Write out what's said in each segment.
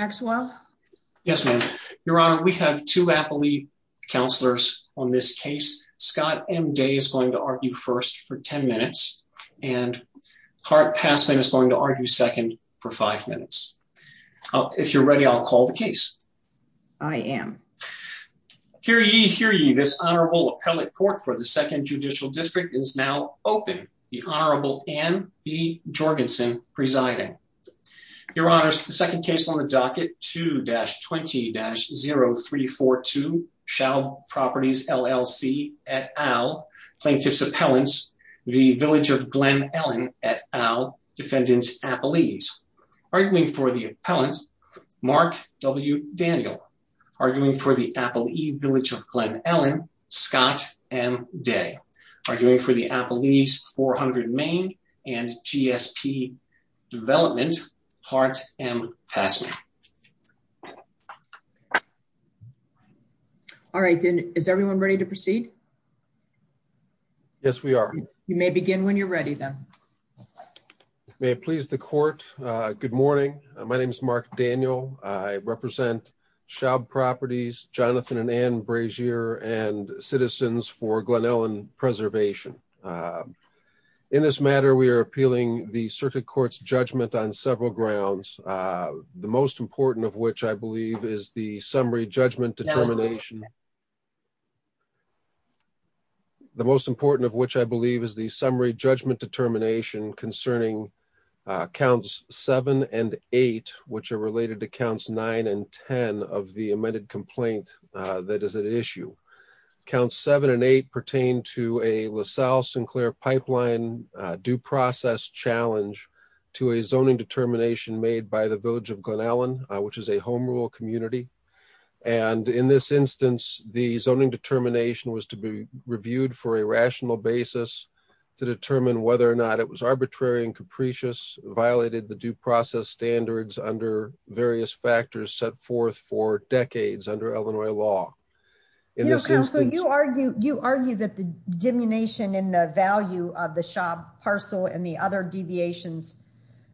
Axwell. Yes, ma'am. Your honor. We have to happily counselors on this case. Scott M. Day is going to argue first for 10 minutes and part passman is going to argue second for five minutes. If you're ready, I'll call the case. I am here. You hear you. This honorable appellate court for the Second Judicial District is now open. The Honorable Anne B. Jorgensen presiding. Your second case on the docket 2-20-0342 Shoub Properties, LLC et al. Plaintiff's appellants, the Village of Glen Ellyn et al. Defendants Appellees. Arguing for the appellant, Mark W. Daniel. Arguing for the Appellee Village of Glen Ellyn, Scott M. Day. Arguing for the Appellee's 400 Main and G. S. P. Development part M. Passman. All right, then. Is everyone ready to proceed? Yes, we are. You may begin when you're ready. Then may please the court. Good morning. My name is Mark Daniel. I represent Shoub Properties, Jonathan and Anne Brasier, and citizens for Glen Ellyn Preservation. In this matter, we are appealing the circuit court's judgment on several grounds, the most important of which I believe is the summary judgment determination. The most important of which I believe is the summary judgment determination concerning counts seven and eight, which are related to counts nine and 10 of the amended complaint that is an issue. Counts seven and eight pertain to a LaSalle- Sinclair pipeline due process challenge to a zoning determination made by the Village of Glen Ellyn, which is a Home Rule community. And in this instance, the zoning determination was to be reviewed for a rational basis to determine whether or not it was arbitrary and capricious, violated the various factors set forth for decades under Illinois law. You know, counsel, you argue that the diminution in the value of the Shoub parcel and the other deviations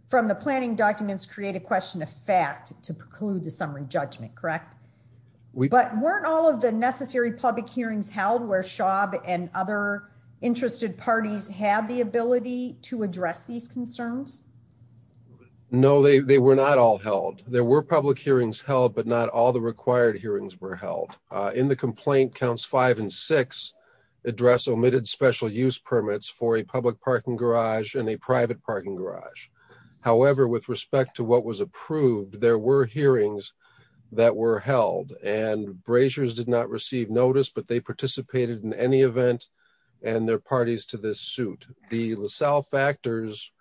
from the planning documents create a question of fact to preclude the summary judgment, correct? But weren't all of the necessary public hearings held where Shoub and other interested parties had the ability to address these concerns? No, they were not all held. There were public hearings held, but not all the required hearings were held. In the complaint, counts five and six address omitted special use permits for a public parking garage and a private parking garage. However, with respect to what was approved, there were hearings that were held and braziers did not receive notice, but they participated in any event and their parties to this suit. The LaSalle factors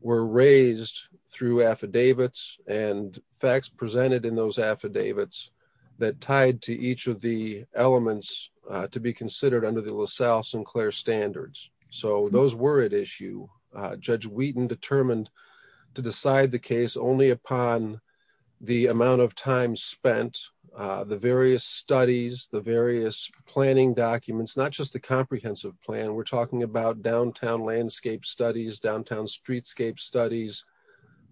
were raised through affidavits and facts presented in those affidavits that tied to each of the elements to be considered under the LaSalle Sinclair standards. So those were at issue. Judge Wheaton determined to decide the case only upon the amount of time spent the various studies, the various planning documents, not just the comprehensive plan. We're talking about downtown landscape studies, downtown streetscape studies,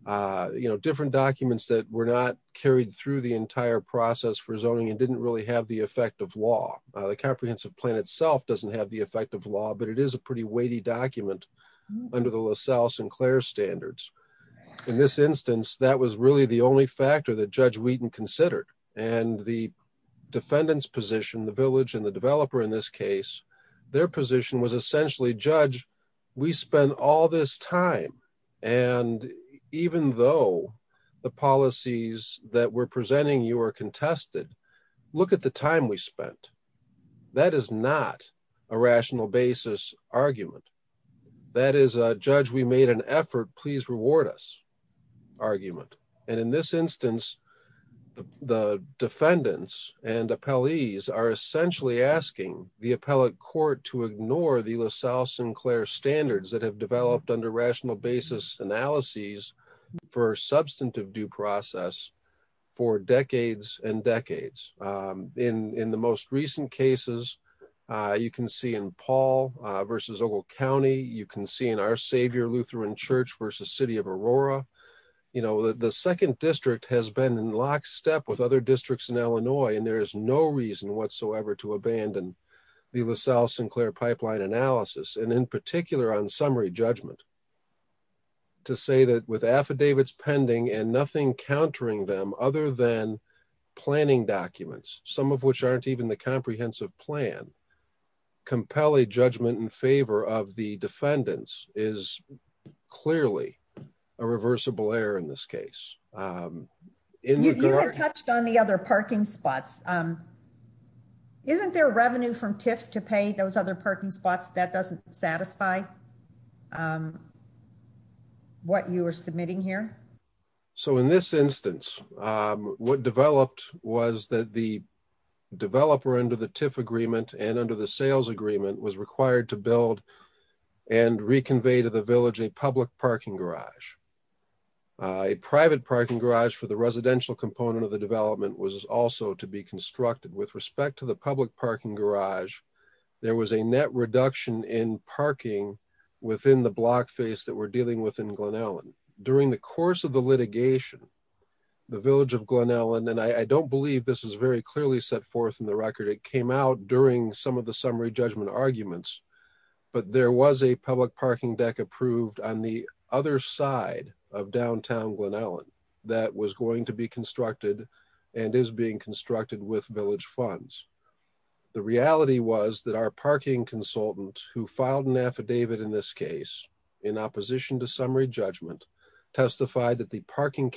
you know, different documents that were not carried through the entire process for zoning and didn't really have the effect of law. The comprehensive plan itself doesn't have the effect of law, but it is a pretty weighty document under the LaSalle Sinclair standards. In this instance, that was really the only factor that Judge Wheaton considered and the defendant's position, the village and the developer in this case, their position was essentially judge. We spend all this time and even though the policies that we're presenting you are contested, look at the time we spent. That is not a rational basis argument. That is a judge. We made an effort. Please reward us argument. And in this instance, the defendants and appellees are essentially asking the appellate court to ignore the LaSalle Sinclair standards that have developed under rational basis analyses for substantive due process for decades and decades. In the most recent cases, you can see in Paul versus Ogle County, you can see in our savior Lutheran Church versus city of Aurora, you know, the second district has been in lockstep with other districts in Illinois and there is no reason whatsoever to abandon the LaSalle Sinclair pipeline analysis and in particular on summary judgment to say that with affidavits pending and nothing countering them other than planning documents, some of which aren't even the comprehensive plan. Compelling judgment in favor of the defendants is clearly a reversible error in this case. Um, you had touched on the other parking spots. Um, isn't their revenue from tiff to pay those other parking spots that doesn't satisfy? Um, what you are submitting here. So in this instance, um, what agreement and under the sales agreement was required to build and reconvey to the village, a public parking garage, a private parking garage for the residential component of the development was also to be constructed with respect to the public parking garage. There was a net reduction in parking within the block face that we're dealing with in Glen Ellen during the course of the litigation, the village of Glen Ellen. And I don't believe this is very clearly set forth in the record. It came out during some of the summary judgment arguments, but there was a public parking deck approved on the other side of downtown Glen Ellen that was going to be constructed and is being constructed with village funds. The reality was that our parking consultant who filed an affidavit in this case, in opposition to summary judgment, testified that the parking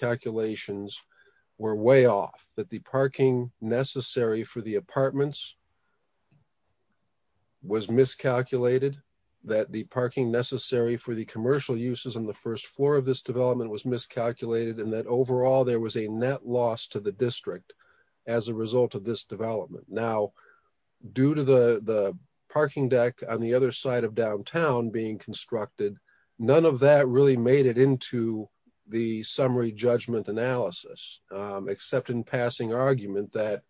was miscalculated, that the parking necessary for the commercial uses on the first floor of this development was miscalculated and that overall there was a net loss to the district as a result of this development. Now, due to the parking deck on the other side of downtown being constructed, none of that really made it into the summary judgment analysis, except in passing argument that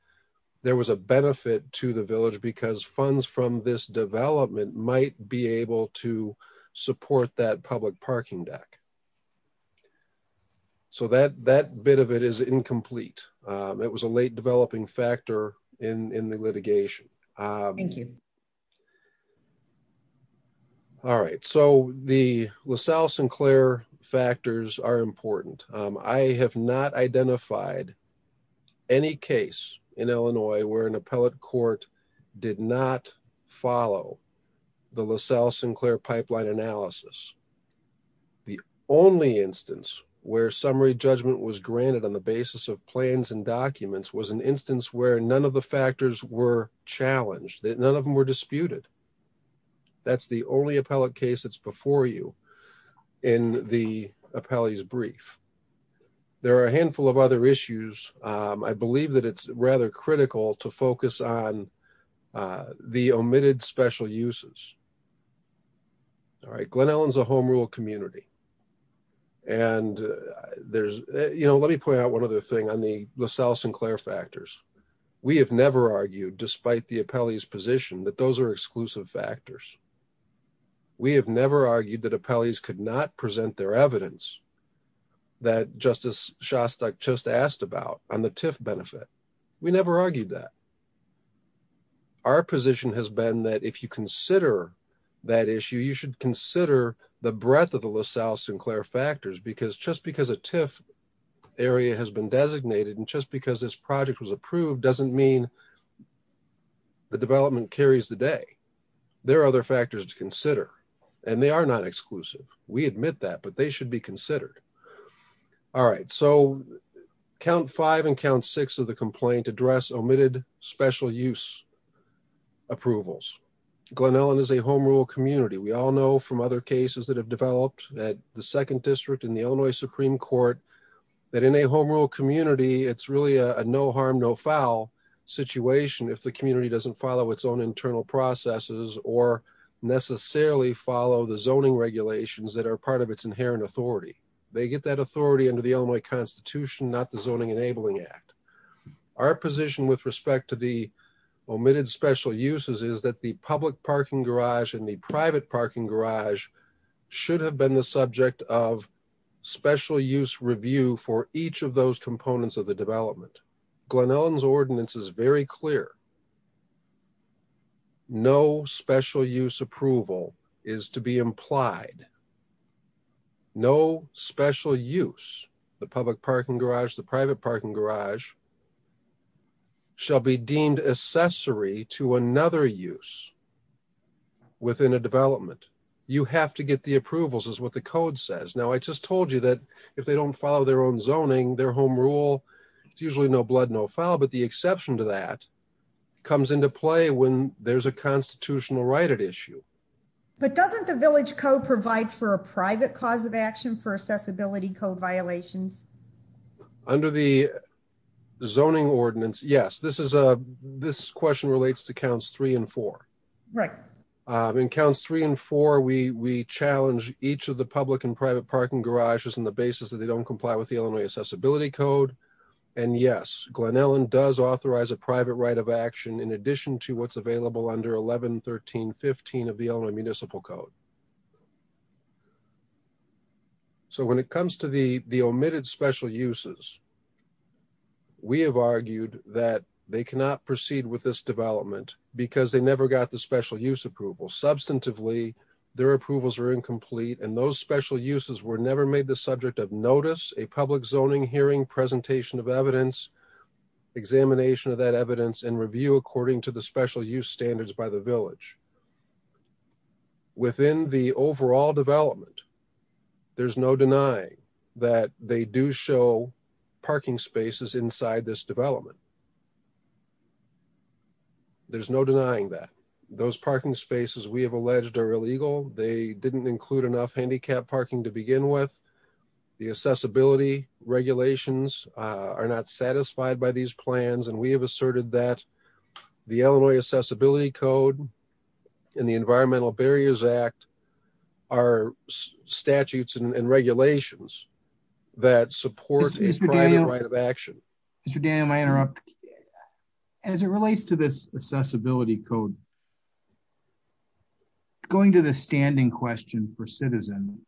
there was a benefit to the village because funds from this development might be able to support that public parking deck. So that bit of it is incomplete. It was a late developing factor in the litigation. All right, so the LaSalle-Sinclair factors are important. I have not identified any case in Illinois where an appellate court did not follow the LaSalle-Sinclair pipeline analysis. The only instance where summary judgment was granted on the basis of plans and documents was an instance where none of the factors were challenged, that none of them were disputed. That's the only of other issues. I believe that it's rather critical to focus on the omitted special uses. All right, Glen Ellyn's a home rule community and there's, you know, let me point out one other thing on the LaSalle-Sinclair factors. We have never argued, despite the appellee's position, that those are exclusive factors. We have never argued that appellees could not present their just asked about on the TIF benefit. We never argued that. Our position has been that if you consider that issue, you should consider the breadth of the LaSalle-Sinclair factors because just because a TIF area has been designated and just because this project was approved doesn't mean the development carries the day. There are other factors to consider and they are not exclusive. We admit that, but they should be considered. All right, so count five and count six of the complaint address omitted special use approvals. Glen Ellyn is a home rule community. We all know from other cases that have developed at the Second District in the Illinois Supreme Court that in a home rule community, it's really a no harm no foul situation if the community doesn't follow its own internal processes or necessarily follow the zoning regulations that are part of its inherent authority. They get that authority under the Illinois Constitution, not the Zoning Enabling Act. Our position with respect to the omitted special uses is that the public parking garage and the private parking garage should have been the subject of special use review for each of those components of the development. Glen no special use approval is to be implied. No special use. The public parking garage, the private parking garage shall be deemed accessory to another use within a development. You have to get the approvals is what the code says. Now, I just told you that if they don't follow their own zoning, their home rule, it's usually no blood, no foul. But the exception to that comes into play when there's a constitutional right at issue. But doesn't the village code provide for a private cause of action for accessibility code violations under the zoning ordinance? Yes, this is a this question relates to counts three and four, right? Encounters three and four. We we challenge each of the public and private parking garages on the basis that they don't comply with the Illinois Accessibility Code. And yes, Glen Ellen does authorize a private right of action in addition to what's available under 11 1315 of the Illinois Municipal Code. So when it comes to the the omitted special uses, we have argued that they cannot proceed with this development because they never got the special use approval. Substantively, their approvals are incomplete, and those special uses were never made the subject of notice a public zoning hearing presentation of evidence, examination of that evidence and review according to the special use standards by the village. Within the overall development, there's no denying that they do show parking spaces inside this development. There's no denying that those parking spaces we have alleged are illegal. They regulations are not satisfied by these plans, and we have asserted that the Illinois Accessibility Code in the Environmental Barriers Act are statutes and regulations that support a private right of action. Mr. Daniel, I interrupt as it relates to this accessibility code going to the standing question for citizen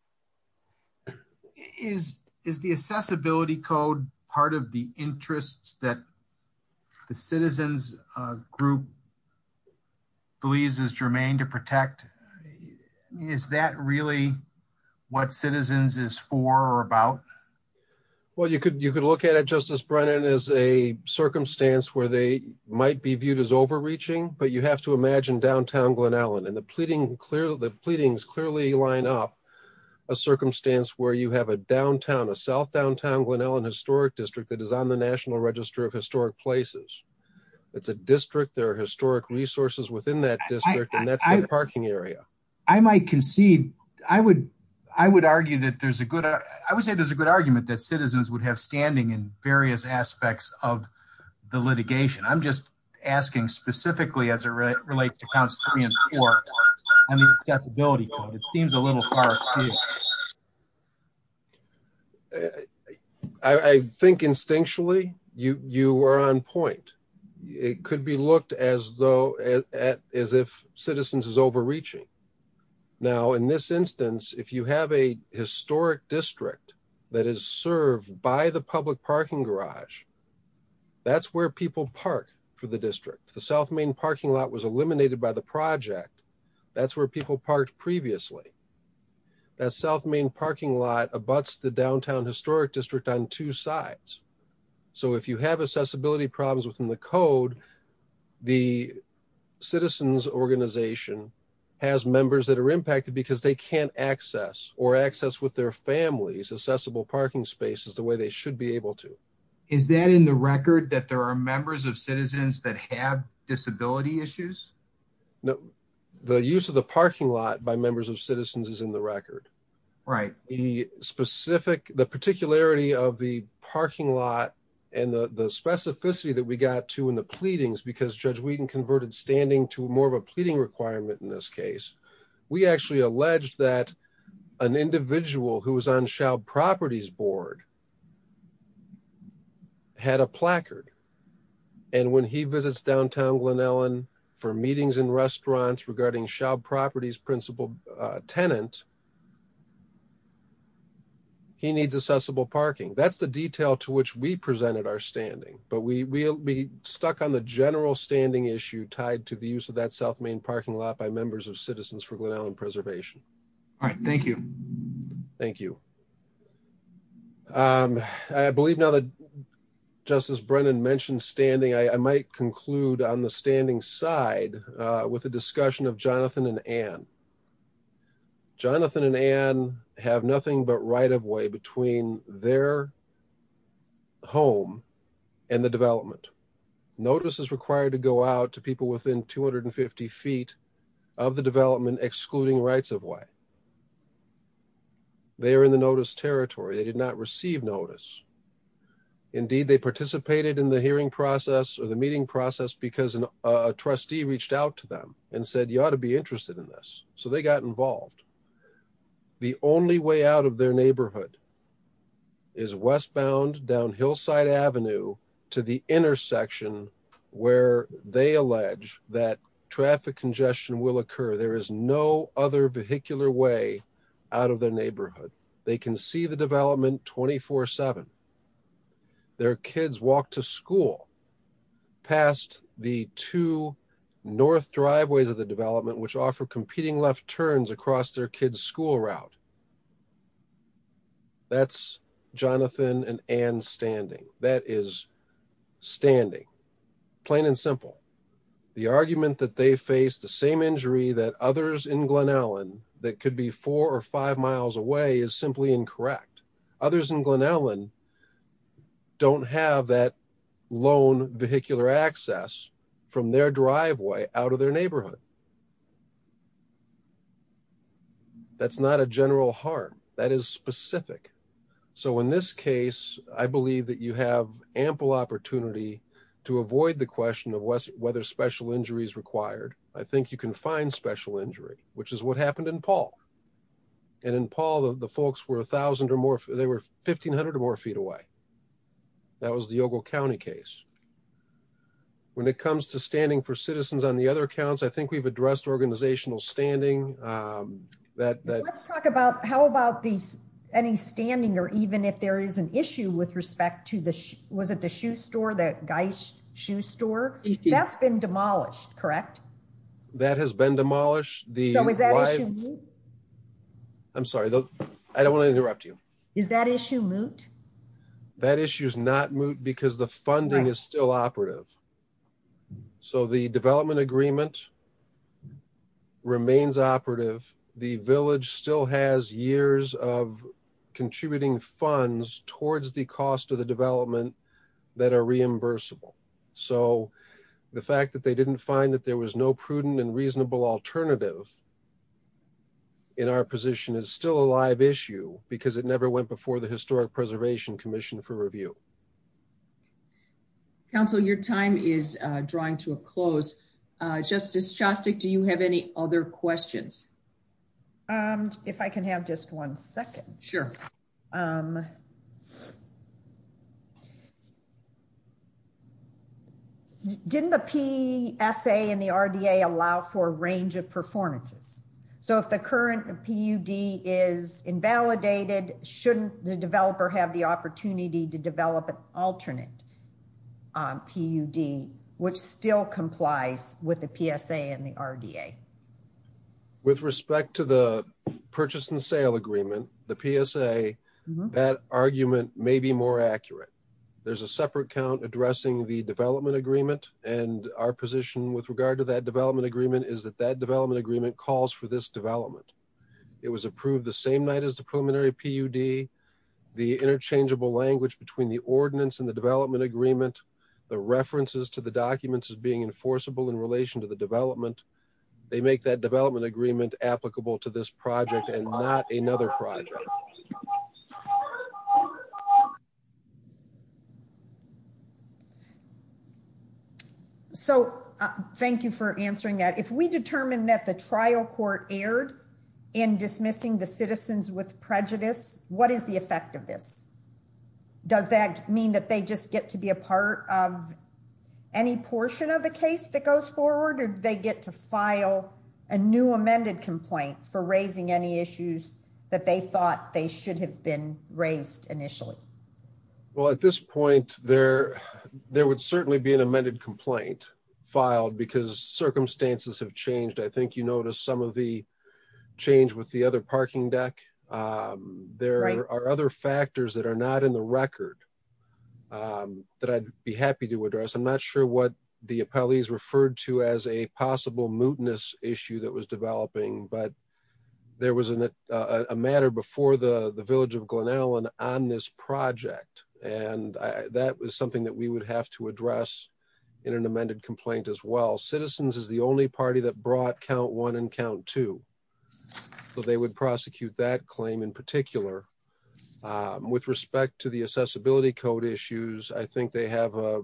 is is the accessibility code part of the interests that the citizens group believes is germane to protect? Is that really what citizens is for or about? Well, you could. You could look at it. Justice Brennan is a circumstance where they might be viewed as overreaching, but you have to imagine downtown Glen up a circumstance where you have a downtown a South downtown Glen Ellyn historic district that is on the National Register of Historic Places. It's a district. There are historic resources within that district, and that's the parking area. I might concede. I would. I would argue that there's a good. I would say there's a good argument that citizens would have standing in various aspects of the litigation. I'm just asking specifically as it relates to counts three and four. I mean, accessibility. It seems a little far. I think instinctually you you are on point. It could be looked as though as if citizens is overreaching. Now, in this instance, if you have a historic district that is served by the public parking garage, that's where people park for the district. The South Main parking lot was eliminated by the project. That's where people parked previously. That South Main parking lot abuts the downtown historic district on two sides. So if you have accessibility problems within the code, the citizens organization has members that are impacted because they can't access or access with their families. Accessible parking space is the way they should be able to. Is that in the record that there are members of citizens that have disability issues? No, the use of the parking lot by members of citizens is in the record, right? The specific the particularity of the parking lot and the specificity that we got to in the pleadings because Judge Wheaton converted standing to more of a pleading requirement. In this case, we had a placard. And when he visits downtown Glen Ellen for meetings in restaurants regarding shop properties, principal tenant, he needs accessible parking. That's the detail to which we presented our standing. But we will be stuck on the general standing issue tied to the use of that South Main parking lot by members of citizens for Glen Allen now that Justice Brennan mentioned standing, I might conclude on the standing side with the discussion of Jonathan and Ann. Jonathan and Ann have nothing but right of way between their home and the development. Notice is required to go out to people within 250 ft of the development, excluding rights of way. They're in the notice territory. They did not receive notice. Indeed, they participated in the hearing process or the meeting process because a trustee reached out to them and said, You ought to be interested in this. So they got involved. The only way out of their neighborhood is westbound down Hillside Avenue to the intersection where they allege that traffic congestion will occur. There is no other vehicular way out of their seven. Their kids walk to school past the two north driveways of the development, which offer competing left turns across their kids school route. That's Jonathan and and standing. That is standing plain and simple. The argument that they face the same injury that others in Glen Allen that could be four or five miles away is simply incorrect. Others in Glen Allen don't have that loan vehicular access from their driveway out of their neighborhood. That's not a general harm that is specific. So in this case, I believe that you have ample opportunity to avoid the question of whether special injuries required. I think you can find special injury, which is what happened in Paul. And in Paul, the folks were 1000 or more. They were 1500 or more feet away. That was the Ogle County case. When it comes to standing for citizens on the other accounts, I think we've addressed organizational standing. Um, let's talk about how about these any standing or even if there is an issue with respect to the was at the shoe store that guy's shoe store that's been demolished, correct? That has been demolished. The I'm sorry. I don't want to interrupt you. Is that issue moot? That issue is not moot because the funding is still operative. So the development agreement remains operative. The village still has years of contributing funds towards the cost of the development that are reimbursable. So the fact that they didn't find that there was no prudent and reasonable alternative in our position is still a live issue because it never went before the Historic Preservation Commission for review. Council. Your time is drawing to a close. Justice Chastik, do you have any other questions? Um, if I can have just one second. Sure. Um, yeah, didn't the P. S. A. And the R. D. A. Allow for a range of performances. So if the current P. U. D. Is invalidated, shouldn't the developer have the opportunity to develop an alternate P. U. D. Which still complies with the P. S. A. And the R. D. A. With respect to the purchase and sale agreement, the P. S. A. That argument may be more accurate. There's a separate count addressing the development agreement, and our position with regard to that development agreement is that that development agreement calls for this development. It was approved the same night as the preliminary P. U. D. The interchangeable language between the ordinance and the development agreement. The references to the documents is being enforceable in relation to the development. They make that development agreement applicable to this project and not another project. Oh, so thank you for answering that. If we determine that the trial court aired in dismissing the citizens with prejudice, what is the effect of this? Does that mean that they just get to be a part of any portion of the case that goes forward or they get to file a new amended complaint for raising any Well, at this point there, there would certainly be an amended complaint filed because circumstances have changed. I think you noticed some of the change with the other parking deck. Um, there are other factors that are not in the record, um, that I'd be happy to address. I'm not sure what the appellees referred to as a possible mootness issue that was developing, but there was a matter before the village of Glen Ellen on this project, and that was something that we would have to address in an amended complaint as well. Citizens is the only party that brought count one and count two. So they would prosecute that claim in particular. Um, with respect to the accessibility code issues, I think they have a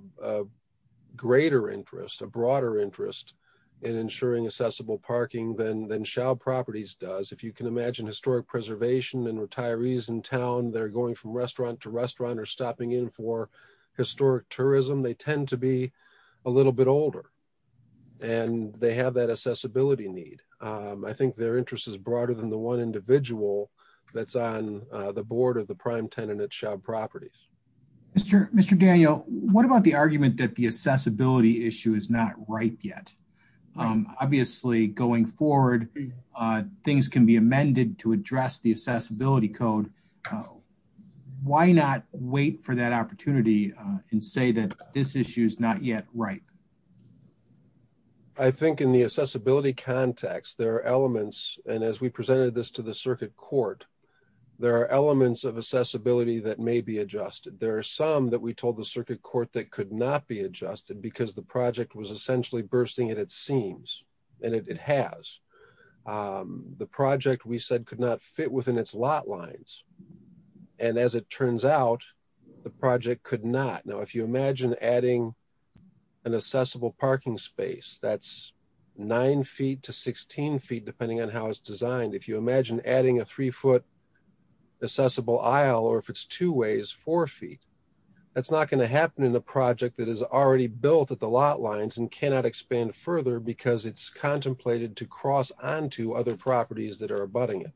greater interest, a broader interest in ensuring accessible parking than shell properties does. If you can imagine historic preservation and retirees in town, they're going from restaurant to restaurant or stopping in for historic tourism. They tend to be a little bit older, and they have that accessibility need. Um, I think their interest is broader than the one individual that's on the board of the prime tenant at shop properties. Mr. Mr Daniel, what about the argument that the accessibility issue is not right yet? Um, obviously, going forward, uh, things can be amended to address the accessibility code. Why not wait for that opportunity and say that this issue is not yet right? I think in the accessibility context, there are elements. And as we presented this to the circuit court, there are elements of accessibility that may be adjusted. There are some that we told the circuit court that could not be adjusted because the project was essentially bursting at its seams. And it has, um, the project, we said, could not fit within its lot lines. And as it turns out, the project could not. Now, if you imagine adding an accessible parking space, that's nine ft to 16 ft, depending on how it's designed. If you four ft, that's not going to happen in the project that is already built at the lot lines and cannot expand further because it's contemplated to cross on to other properties that are abutting it.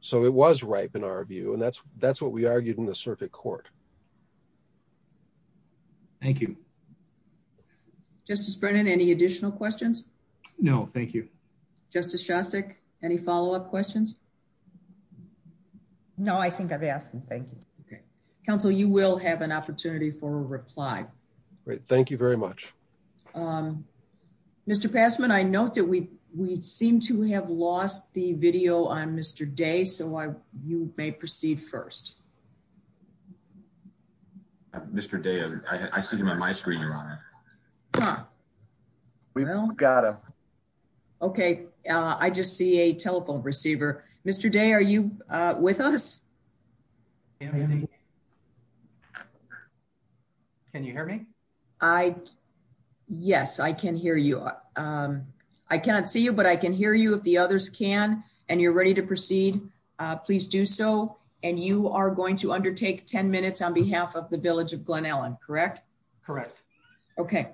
So it was ripe in our view, and that's that's what we argued in the circuit court. Thank you, Justice Brennan. Any additional questions? No, thank you, Justice Shostak. Any follow up questions? No, I think I've asked him. Thank you. Okay, Council, you will have an opportunity for a reply. Great. Thank you very much. Um, Mr Passman, I note that we we seem to have lost the video on Mr Day. So you may proceed first. Mr Day. I see him on my screen. Yeah, we've got him. Okay. I just see a telephone receiver. Mr Day, are you with us? Can you hear me? I Yes, I can hear you. Um, I cannot see you, but I can hear you. If the others can and you're ready to proceed, please do so. And you are going to undertake 10 minutes on behalf of the village of Glen Ellen. Correct? Correct. Okay,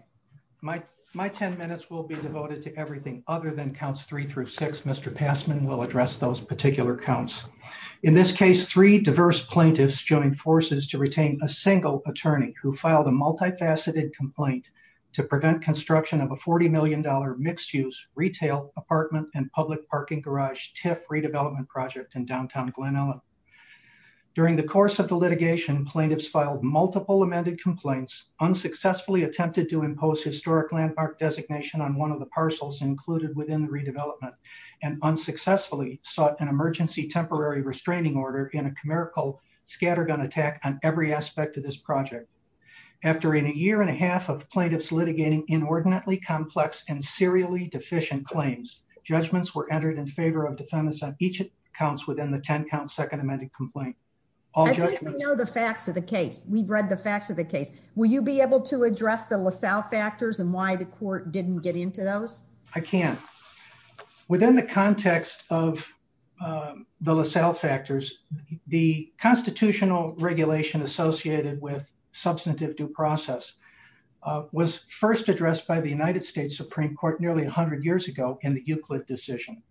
my my 10 minutes will be devoted to everything other than counts three through six. Mr Passman will address those particular counts. In this case, three diverse plaintiffs joined forces to retain a single attorney who filed a multifaceted complaint to prevent construction of a $40 million mixed use retail apartment and public parking garage TIF redevelopment project in downtown Glen Ellen. During the course of the unsuccessfully attempted to impose historic landmark designation on one of the parcels included within the redevelopment and unsuccessfully sought an emergency temporary restraining order in a commerical scattergun attack on every aspect of this project. After in a year and a half of plaintiffs litigating inordinately complex and serially deficient claims, judgments were entered in favor of defendants on each accounts within the 10 count second amended complaint. All know the facts of the case. We've read the facts of the case. Will you be able to address the LaSalle factors and why the court didn't get into those? I can't. Within the context of, uh, the LaSalle factors, the constitutional regulation associated with substantive due process was first addressed by the United States Supreme Court nearly 100 years ago in the Euclid decision.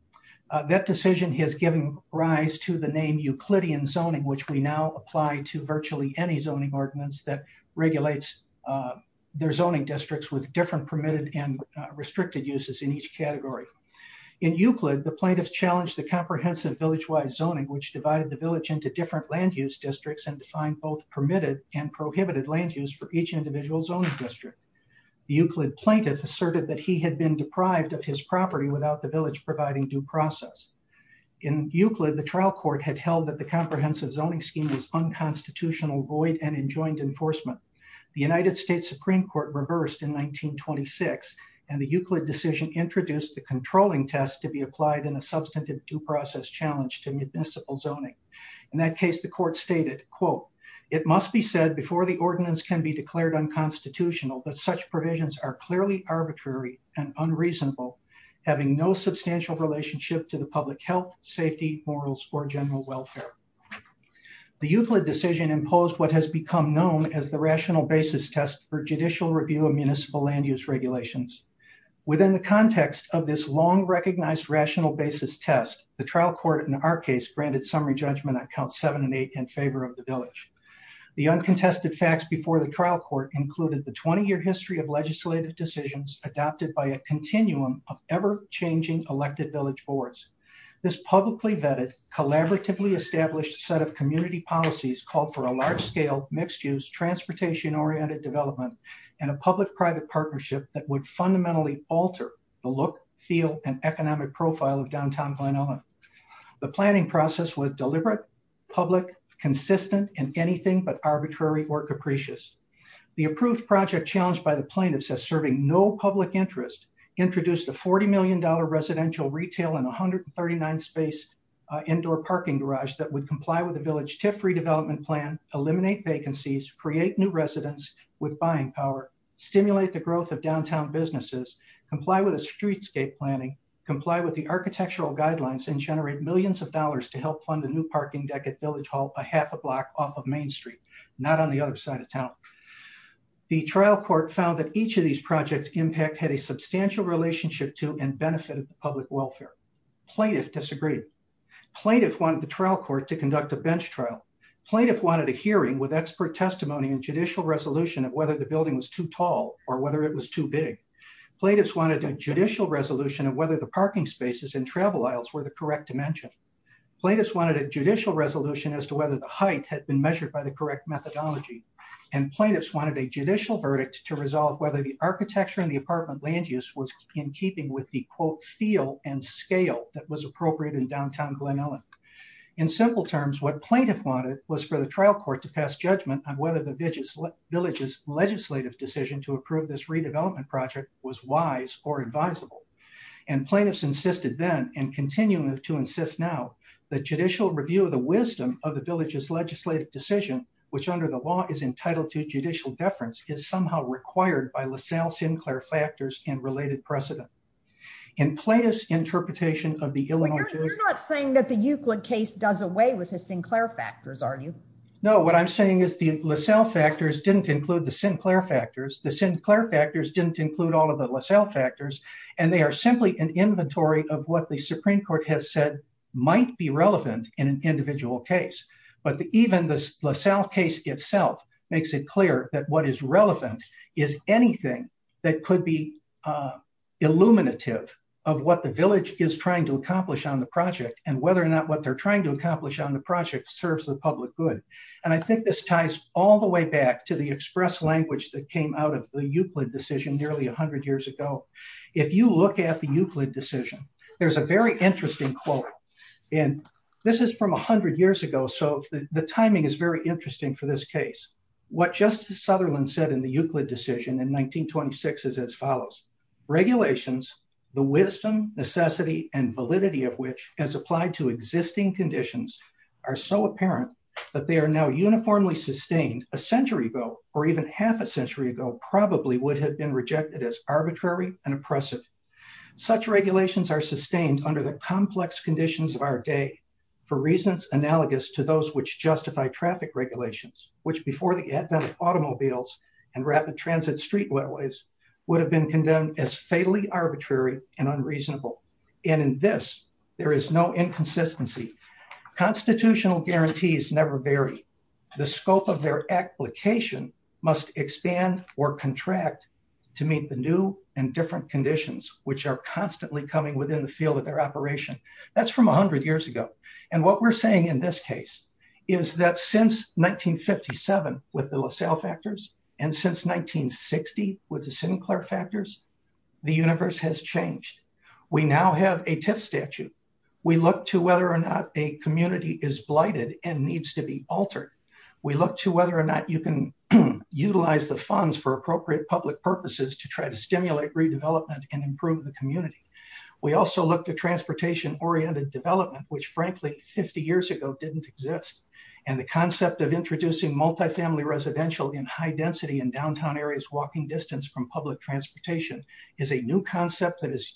That decision has given rise to the name Euclidean zoning, which we now apply to virtually any zoning ordinance that regulates their zoning districts with different permitted and restricted uses in each category. In Euclid, the plaintiffs challenged the comprehensive village wise zoning, which divided the village into different land use districts and defined both permitted and prohibited land use for each individual zoning district. Euclid plaintiff asserted that he had been deprived of his property without the village providing due process. In Euclid, the trial court had held that the comprehensive zoning scheme was unconstitutional, void and enjoined enforcement. The United States Supreme Court reversed in 1926, and the Euclid decision introduced the controlling test to be applied in a substantive due process challenge to municipal zoning. In that case, the court stated, quote, It must be said before the ordinance can be declared unconstitutional, but such provisions are clearly arbitrary and unreasonable, having no substantial relationship to the public health, safety, morals or general welfare. The Euclid decision imposed what has become known as the rational basis test for judicial review of municipal land use regulations. Within the context of this long recognized rational basis test, the trial court in our case granted summary judgment on count seven and eight in favor of the village. The uncontested facts before the trial court included the 20 year history of legislative decisions adopted by a publicly vetted, collaboratively established set of community policies called for a large scale, mixed use, transportation oriented development and a public private partnership that would fundamentally alter the look, feel and economic profile of downtown Glen Ellyn. The planning process was deliberate, public, consistent and anything but arbitrary or capricious. The approved project challenged by the plaintiffs as serving no public interest, introduced a $40 million residential retail and 139 space indoor parking garage that would comply with the village TIF redevelopment plan, eliminate vacancies, create new residents with buying power, stimulate the growth of downtown businesses, comply with the streetscape planning, comply with the architectural guidelines and generate millions of dollars to help fund the new parking deck at Village Hall a half a block off of Main Street, not on the other side of town. The trial court found that each of these projects impact had a substantial relationship to and benefited the public welfare. Plaintiff disagreed. Plaintiff wanted the trial court to conduct a bench trial. Plaintiff wanted a hearing with expert testimony and judicial resolution of whether the building was too tall or whether it was too big. Plaintiffs wanted a judicial resolution of whether the parking spaces and travel aisles were the correct dimension. Plaintiffs wanted a judicial resolution as to whether the height had been measured by the correct methodology and plaintiffs wanted a judicial verdict to resolve whether the architecture in the apartment land use was in keeping with the quote feel and scale that was appropriate in downtown Glen Ellyn. In simple terms, what plaintiff wanted was for the trial court to pass judgment on whether the villages legislative decision to approve this redevelopment project was wise or advisable. And plaintiffs insisted then and continuing to insist now the judicial review of the wisdom of the village's legislative decision, which under the law is entitled to judicial deference, is somehow required by LaSalle Sinclair factors and related precedent in plaintiff's interpretation of the Illinois. You're not saying that the Euclid case does away with his Sinclair factors, are you? No, what I'm saying is the LaSalle factors didn't include the Sinclair factors. The Sinclair factors didn't include all of the LaSalle factors, and they are simply an inventory of what the Supreme Court has said might be relevant in an investigation. What is relevant is anything that could be illuminative of what the village is trying to accomplish on the project and whether or not what they're trying to accomplish on the project serves the public good. And I think this ties all the way back to the express language that came out of the Euclid decision nearly 100 years ago. If you look at the Euclid decision, there's a very interesting quote, and this is from 100 years ago. So the Sutherland said in the Euclid decision in 1926 is as follows. Regulations, the wisdom, necessity and validity of which has applied to existing conditions are so apparent that they are now uniformly sustained a century ago, or even half a century ago, probably would have been rejected as arbitrary and oppressive. Such regulations are sustained under the complex conditions of our day, for reasons analogous to those which justify traffic regulations, which before the advent of automobiles and rapid transit street railways would have been condemned as fatally arbitrary and unreasonable. And in this, there is no inconsistency. Constitutional guarantees never vary. The scope of their application must expand or contract to meet the new and different conditions which are constantly coming within the field of their operation. That's from 100 years ago. And what we're saying in this case, is that since 1957, with the LaSalle factors, and since 1960, with the Sinclair factors, the universe has changed. We now have a TIF statute. We look to whether or not a community is blighted and needs to be altered. We look to whether or not you can utilize the funds for appropriate public purposes to try to stimulate redevelopment and improve the community. We also look to transportation oriented development, which frankly, 50 years ago didn't exist. And the concept of introducing multifamily residential in high density in downtown areas walking distance from public transportation is a new concept that is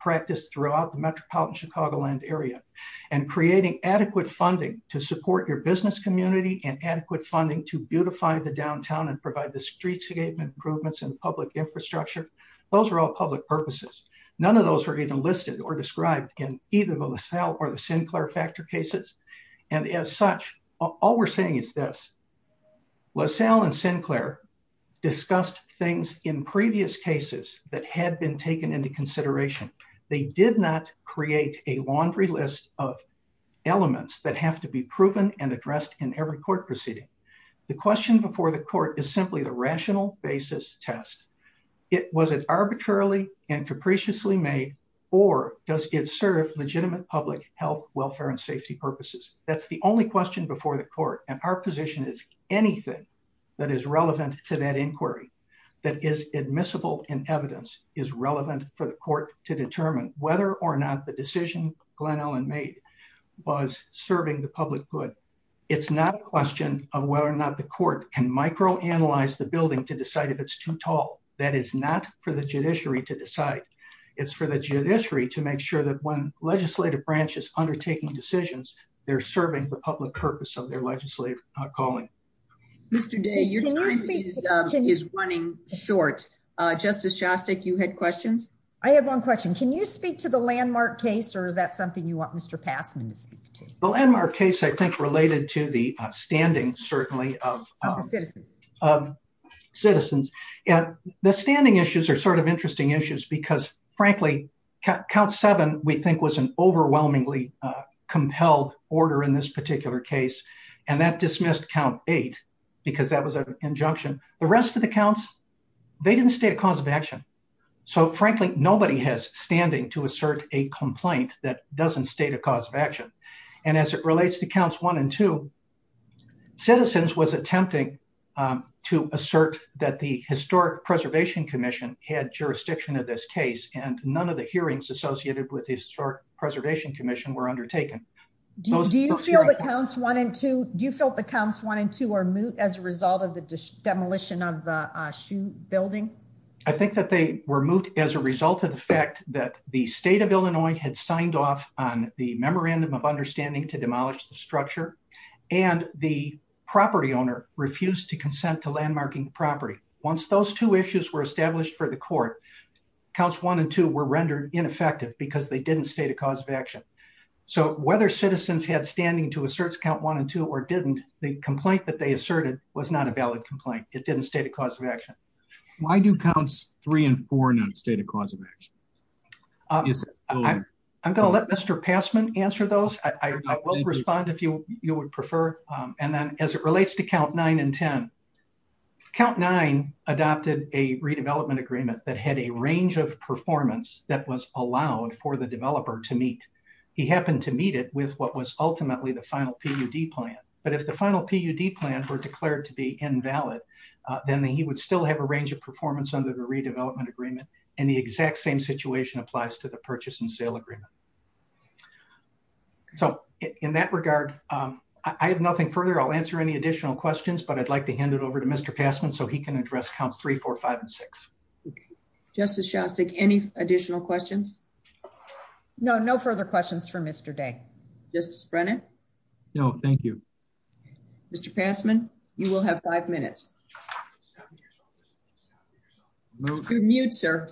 practiced throughout the metropolitan Chicagoland area, and creating adequate funding to support your business community and adequate funding to beautify the downtown and provide the streets to get improvements in public infrastructure. Those are all public purposes. None of those are even listed or described in either the LaSalle or the Sinclair factor cases. And as such, all we're saying is this. LaSalle and Sinclair discussed things in previous cases that had been taken into consideration. They did not create a laundry list of elements that have to be proven and addressed in every court proceeding. The question before the court is simply the rational basis test. Was it arbitrarily and capriciously made, or does it serve legitimate public health, welfare and safety purposes? That's the only question before the court. And our position is anything that is relevant to that inquiry that is admissible in evidence is relevant for the court to determine whether or not the decision Glenn Ellen made was serving the public good. It's not a question of whether or not the court can microanalyze the building to decide if it's too tall. That is not for the judiciary to decide. It's for the judiciary to make sure that when legislative branches undertaking decisions, they're serving the public purpose of their legislative calling. Mr Day, your time is running short. Justice Shostak, you had questions. I have one question. Can you speak to the landmark case? Or is that something you want Mr Passman to speak to the landmark case? I think related to the standing certainly of citizens. The standing issues are sort of interesting issues because frankly, count seven we think was an overwhelmingly compelled order in this particular case, and that dismissed count eight because that was an injunction. The rest of the counts, they didn't state a cause of action. So frankly, nobody has standing to assert a complaint that doesn't state a cause of action. And as it relates to counts one and two, citizens was attempting to assert that the Historic Preservation Commission had jurisdiction of this case, and none of the hearings associated with historic Preservation Commission were undertaken. Do you feel that counts one and two? Do you feel that counts one and two are moot as a result of the demolition of the shoe building? I think that they were moved as a result of the fact that the state of Illinois had signed off on the memorandum of understanding to demolish the structure, and the property owner refused to consent to counts. One and two were rendered ineffective because they didn't state a cause of action. So whether citizens had standing to assert count one and two or didn't, the complaint that they asserted was not a valid complaint. It didn't state a cause of action. Why do counts three and four not state a cause of action? Uh, I'm gonna let Mr Passman answer those. I will respond if you would prefer. And then, as it relates to count nine and 10, count nine adopted a range of performance that was allowed for the developer to meet. He happened to meet it with what was ultimately the final PUD plan. But if the final PUD plan were declared to be invalid, then he would still have a range of performance under the redevelopment agreement, and the exact same situation applies to the purchase and sale agreement. So in that regard, I have nothing further. I'll answer any additional questions, but I'd like to hand it over to Mr Passman so he can address counts 3456. Justice shall stick any additional questions. No, no further questions for Mr Day. Just Brennan. No, thank you, Mr Passman. You will have five minutes. Move to mute, sir.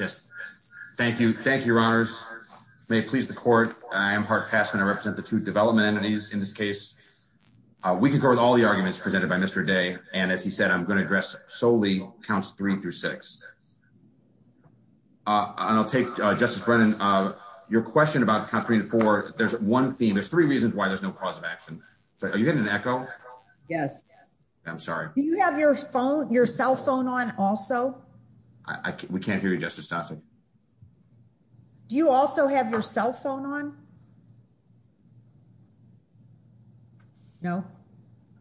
Yes. Thank you. Thank you, Your Honors. May it please the court. I am Park Passman. I represent the two development entities in this case. We can go with all the arguments presented by Mr Day. And as he said, I'm gonna dress solely counts three through six. Uh, I'll take Justice Brennan. Uh, your question about country for there's one theme. There's three reasons why there's no cause of action. So are you getting an echo? Yes. I'm sorry. You have your phone, your cell phone on. Also, we can't hear you, Justice Sasson. Do you also have your cell phone on? No,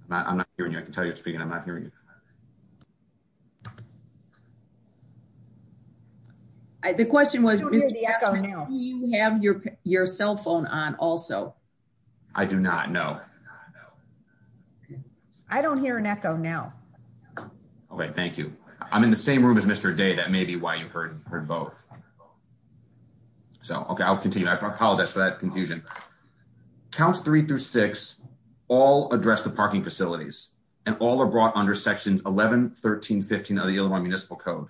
I'm not hearing you. I can tell you speaking. I'm not hearing you. Yeah. The question was, you have your cell phone on. Also, I do not know. I don't hear an echo now. Okay, thank you. I'm in the same room as Mr Day. That may be why you heard both. So, okay, I'll continue. I apologize for that confusion. Counts three through six all address the parking facilities and all are brought under Sections 11 13 15 of the Illinois Municipal Code.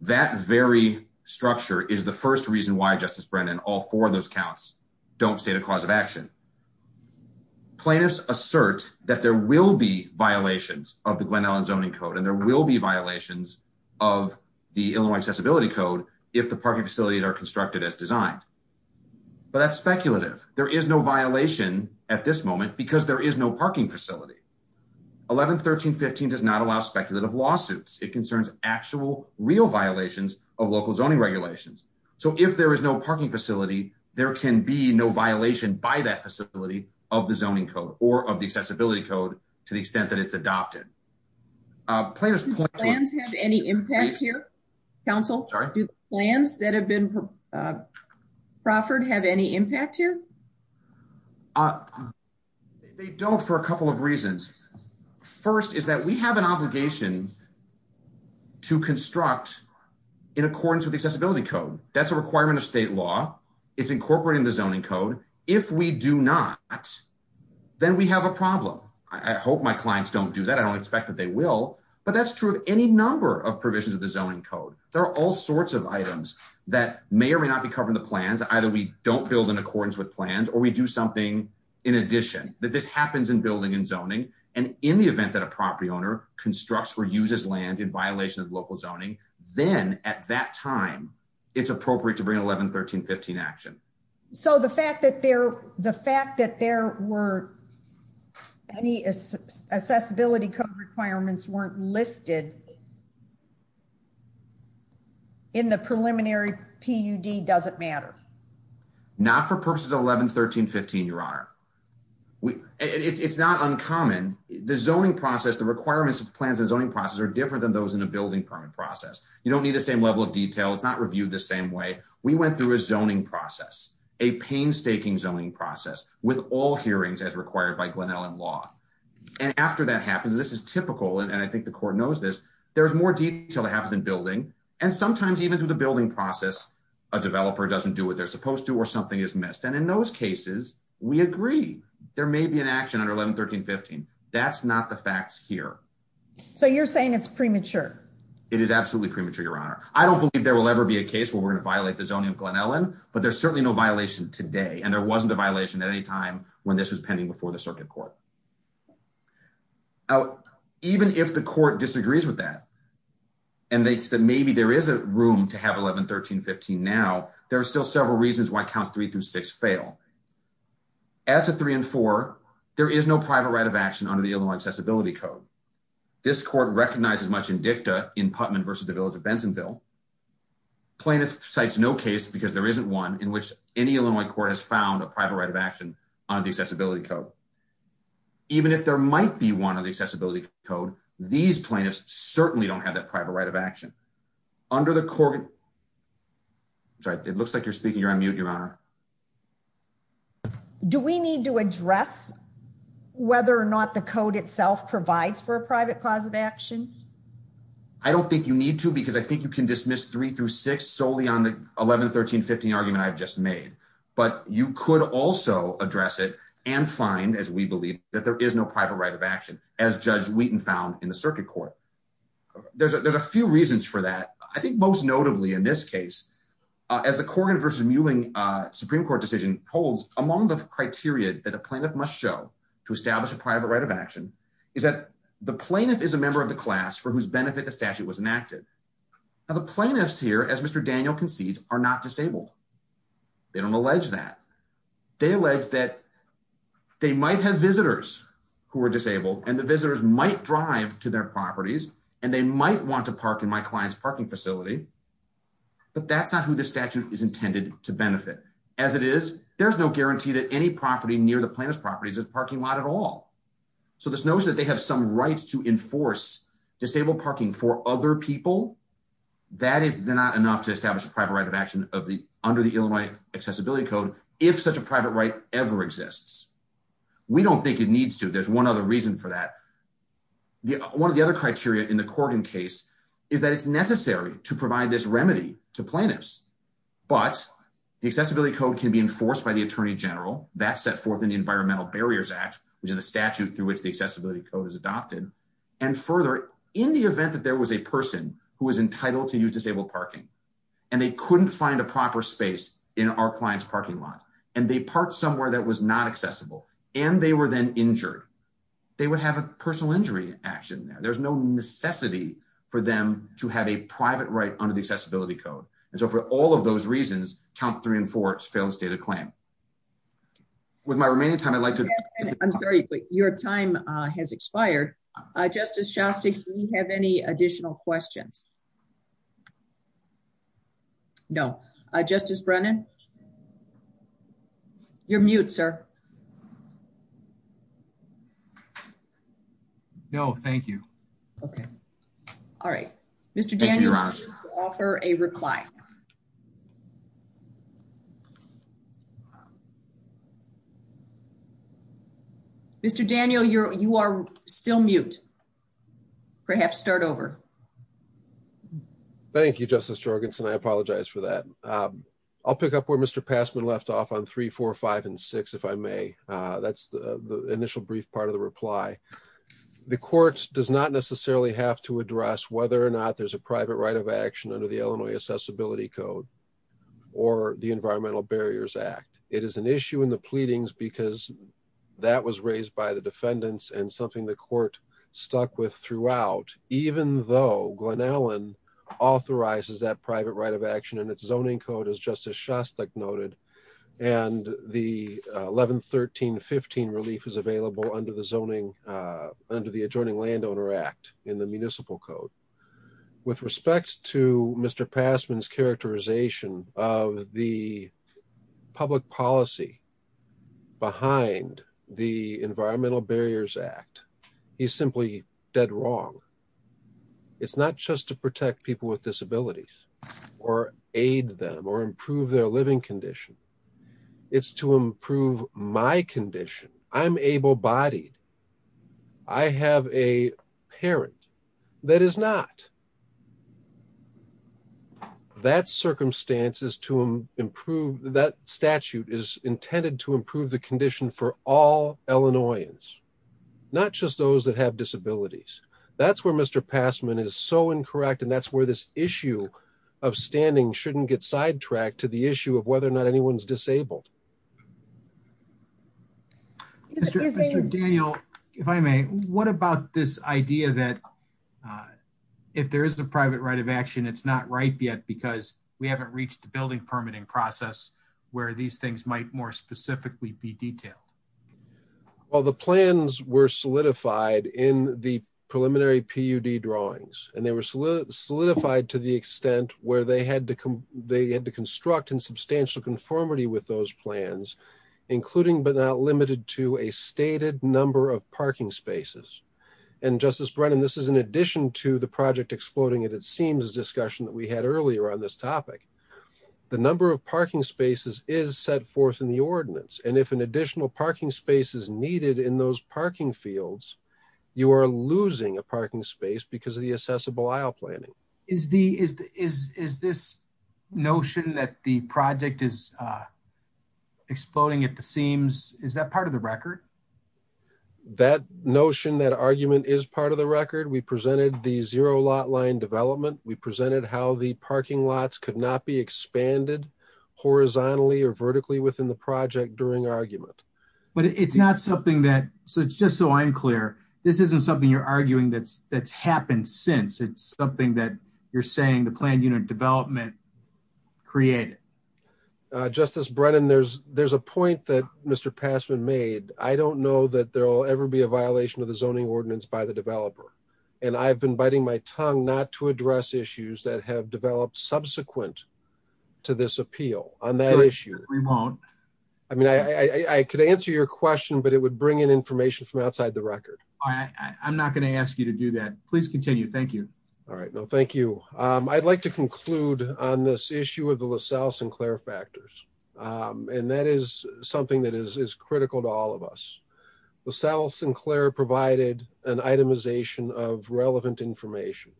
That very structure is the first reason why Justice Brennan, all four of those counts don't state a cause of action. Plaintiffs assert that there will be violations of the Glen Ellyn zoning code, and there will be violations of the Illinois Accessibility Code if the parking facilities are constructed as designed. But that's speculative. There is no violation at this moment because there is no parking facility. 11 13 15 does not allow speculative lawsuits. It concerns actual real violations of local zoning regulations. So if there is no parking facility, there can be no violation by that facility of the zoning code or of the Accessibility Code to the extent that it's adopted. Uh, players plans have any impact here. Council plans that have been, uh, Crawford have any impact here. Uh, they don't for a couple of reasons. First is that we have an obligation to construct in accordance with Accessibility Code. That's a requirement of state law. It's incorporating the zoning code. If we do not, then we have a problem. I hope my clients don't do that. I don't expect that they will, but that's true of any number of provisions of the zoning code. There are all sorts of items that may or may not be covering the plans. Either we don't build in accordance with plans, or we do something in addition that this happens in building and zoning. And in the event that a property owner constructs or uses land in violation of local zoning, then at that time, it's appropriate to bring 11 13 15 action. So the fact that they're the fact that there were any accessibility code requirements weren't listed. In the preliminary P. U. D. Doesn't matter. Not for purposes of 11 13 15. Your honor, it's not uncommon. The zoning process, the requirements of plans and zoning process are different than those in the building permit process. You don't need the same level of detail. It's not reviewed the same way we went through a zoning process, a painstaking zoning process with all hearings as required by Glen Ellen Law. And after that happens, this is typical, and I think the court knows this. There's more detail that happens in building, and sometimes even through the building process, a developer doesn't do what they're supposed to, or something is missed. And in those cases, we agree there may be an action under 11 13 15. That's not the facts here. So you're saying it's premature. It is absolutely premature. Your honor, I don't believe there will ever be a case where we're gonna violate the zoning Glen Ellen, but there's certainly no violation today, and there wasn't a violation at any time when this was pending before the circuit court. Oh, even if the court disagrees with that, and they said maybe there is a room to have 11 13 15. Now there are still several reasons why counts three through six fail as a three and four. There is no private right of action under the Illinois Accessibility Code. This court recognizes much in dicta in Putnam versus the village of Bensonville. Plaintiff cites no case because there isn't one in which any Illinois court has found a private right of action on the Accessibility Code. Even if there might be one of the Accessibility Code, these plaintiffs certainly don't have that private right of action under the court. It looks like you're speaking. You're on mute, your honor. Do we need to address whether or not the code itself provides for a private cause of action? I don't think you need to, because I think you can dismiss three through six solely on the 11 13 15 argument I've just made. But you could also address it and find, as we believe that there is no private right of action, as Judge Wheaton found in the circuit court. There's a few reasons for that. I think most notably in this case, as the Corrigan versus Mewing Supreme Court decision holds among the criteria that a plaintiff must show to establish a private right of action is that the plaintiff is a member of the class for whose benefit the statute was enacted. Now the plaintiffs here, as Mr. Daniel concedes, are not disabled. They don't allege that. They allege that they might have visitors who are disabled, and the visitors might drive to their properties, and they might want to park in my client's parking facility. But that's not who the statute is intended to benefit. As it is, there's no guarantee that any property near the plaintiff's properties is a parking lot at all. So this notion that they have some rights to enforce disabled parking for other people, that is not enough to establish a private right of action under the Illinois Accessibility Code, if such a private right ever exists. We don't think it is a reason for that. One of the other criteria in the Corrigan case is that it's necessary to provide this remedy to plaintiffs. But the Accessibility Code can be enforced by the Attorney General. That's set forth in the Environmental Barriers Act, which is the statute through which the Accessibility Code is adopted. And further, in the event that there was a person who was entitled to use disabled parking, and they couldn't find a proper space in our client's parking lot, and they parked somewhere that was not accessible, and they were then injured, they would have a personal injury action there. There's no necessity for them to have a private right under the Accessibility Code. And so, for all of those reasons, count three and four, it's a failed state of claim. With my remaining time, I'd like to... I'm sorry, but your time has expired. Justice Shostak, do you have any additional questions? No. Justice Brennan? You're mute, sir. No, thank you. Okay. All right. Mr. Daniel, I'd like to offer a reply. Mr. Daniel, you are still mute. Perhaps start over. Thank you, Justice Jorgensen. I apologize for that. I'll pick up where Mr. Passman left off on three, four, five, and six, if I may. That's the initial brief part of the reply. The court does not necessarily have to address whether or not there's a private right of action under the Illinois Accessibility Code or the Environmental Barriers Act. It is an issue in the pleadings because that was raised by the defendants and something the court stuck with throughout, even though Glenallen authorizes that private right of action and its zoning code, as Justice Shostak noted, and the 11-13-15 relief is available under the adjoining Landowner Act in the Municipal Code. With respect to Mr. Passman's characterization of the public policy behind the Environmental Barriers Act, he's simply dead wrong. It's not just to protect people with disabilities or aid them or improve their living condition. It's to improve my condition. I'm able-bodied. I have a parent that is not. That statute is intended to improve the condition for all Illinoisans, not just those that have disabilities. That's where Mr. Passman is so incorrect, and that's where this issue of standing shouldn't get sidetracked to the issue of whether or not anyone's disabled. Mr. Daniel, if I may, what about this idea that if there is a private right of action, it's not ripe yet because we haven't reached the building permitting process where these things might more specifically be detailed? Well, the plans were solidified in the preliminary PUD drawings, and they were solidified to the extent where they had to construct in substantial conformity with those plans, including but not limited to a stated number of parking spaces. And Justice Brennan, this is in addition to the project exploding at it seems discussion that we had earlier on this topic. The number of parking spaces is set forth in the ordinance, and if an additional parking space is needed in those parking fields, you are losing a parking space because of the accessible aisle planning is the is is this notion that the project is exploding at the seams? Is that part of the record? That notion that argument is part of the record. We presented the zero lot line development. We presented how the parking lots could not be expanded horizontally or vertically within the project during argument. But it's not something that so just so I'm clear, this isn't something you're arguing that's that's happened since it's something that you're saying the planned unit development created. Justice Brennan, there's there's a point that Mr Passman made. I don't know that there will ever be a violation of the zoning ordinance by the developer, and I've been biting my tongue not to address issues that have developed subsequent to this appeal on that issue. We won't. I mean, I could answer your question, but it would bring in information from to do that. Please continue. Thank you. All right. No, thank you. Um, I'd like to conclude on this issue of the LaSalle Sinclair factors. Um, and that is something that is critical to all of us. LaSalle Sinclair provided an itemization of relevant information.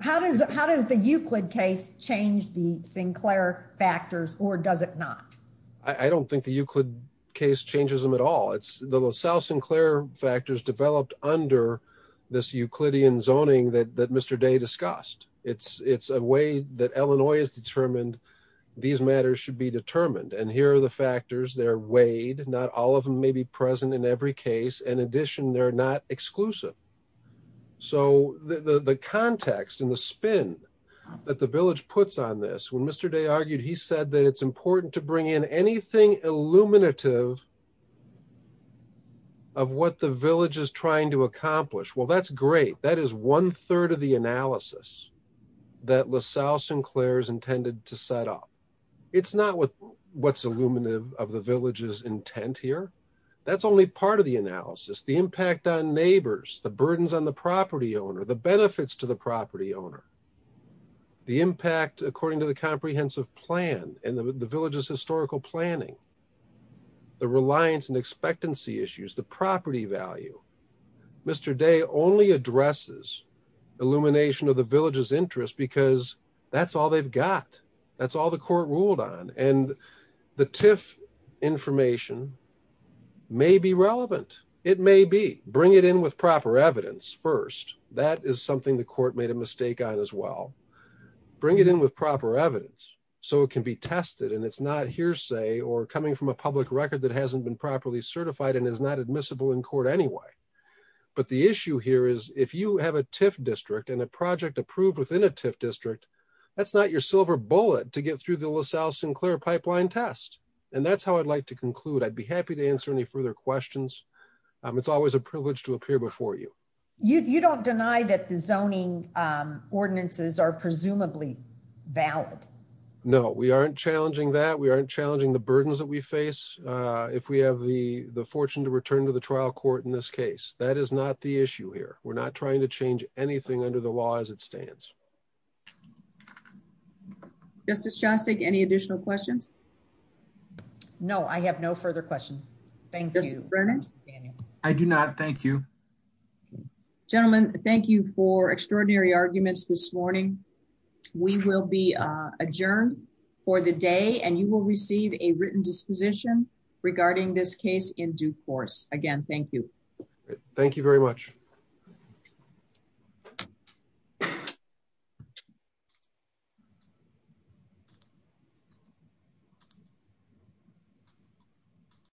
How does how does the Euclid case change the Sinclair factors or does it not? I don't think the Euclid case changes him at all. It's the LaSalle Sinclair factors developed under this Euclidean zoning that Mr Day discussed. It's a way that Illinois is determined. These matters should be determined. And here are the factors. They're weighed. Not all of them may be present in every case. In addition, they're not exclusive. So the context in the spin that the village puts on this when Mr Day argued, he said that it's important to bring in anything illuminative of what the village is trying to accomplish. Well, that's great. That is one third of the analysis that LaSalle Sinclair is intended to set up. It's not what what's illuminative of the village's intent here. That's only part of the analysis. The impact on neighbors, the burdens on the property owner, the benefits to the property owner, the impact according to the comprehensive plan and the village's historical planning, the reliance and expectancy issues, the property value. Mr Day only addresses illumination of the village's interest because that's all they've got. That's all the court ruled on. And the TIF information may be relevant. It may be bring it in with proper evidence first. That is something the court made a as well. Bring it in with proper evidence so it can be tested and it's not hearsay or coming from a public record that hasn't been properly certified and is not admissible in court anyway. But the issue here is if you have a TIF district and a project approved within a TIF district, that's not your silver bullet to get through the LaSalle Sinclair pipeline test. And that's how I'd like to conclude. I'd be happy to answer any further questions. Um, it's always a privilege to appear before you. You don't deny that the ordinances are presumably valid. No, we aren't challenging that. We aren't challenging the burdens that we face. Uh, if we have the fortune to return to the trial court in this case, that is not the issue here. We're not trying to change anything under the law as it stands. Justice Chastik. Any additional questions? No, I have no further questions. Thank you. I do not. Thank you, gentlemen. Thank you for extraordinary arguments this morning. We will be adjourned for the day and you will receive a written disposition regarding this case in due course again. Thank you. Thank you very much.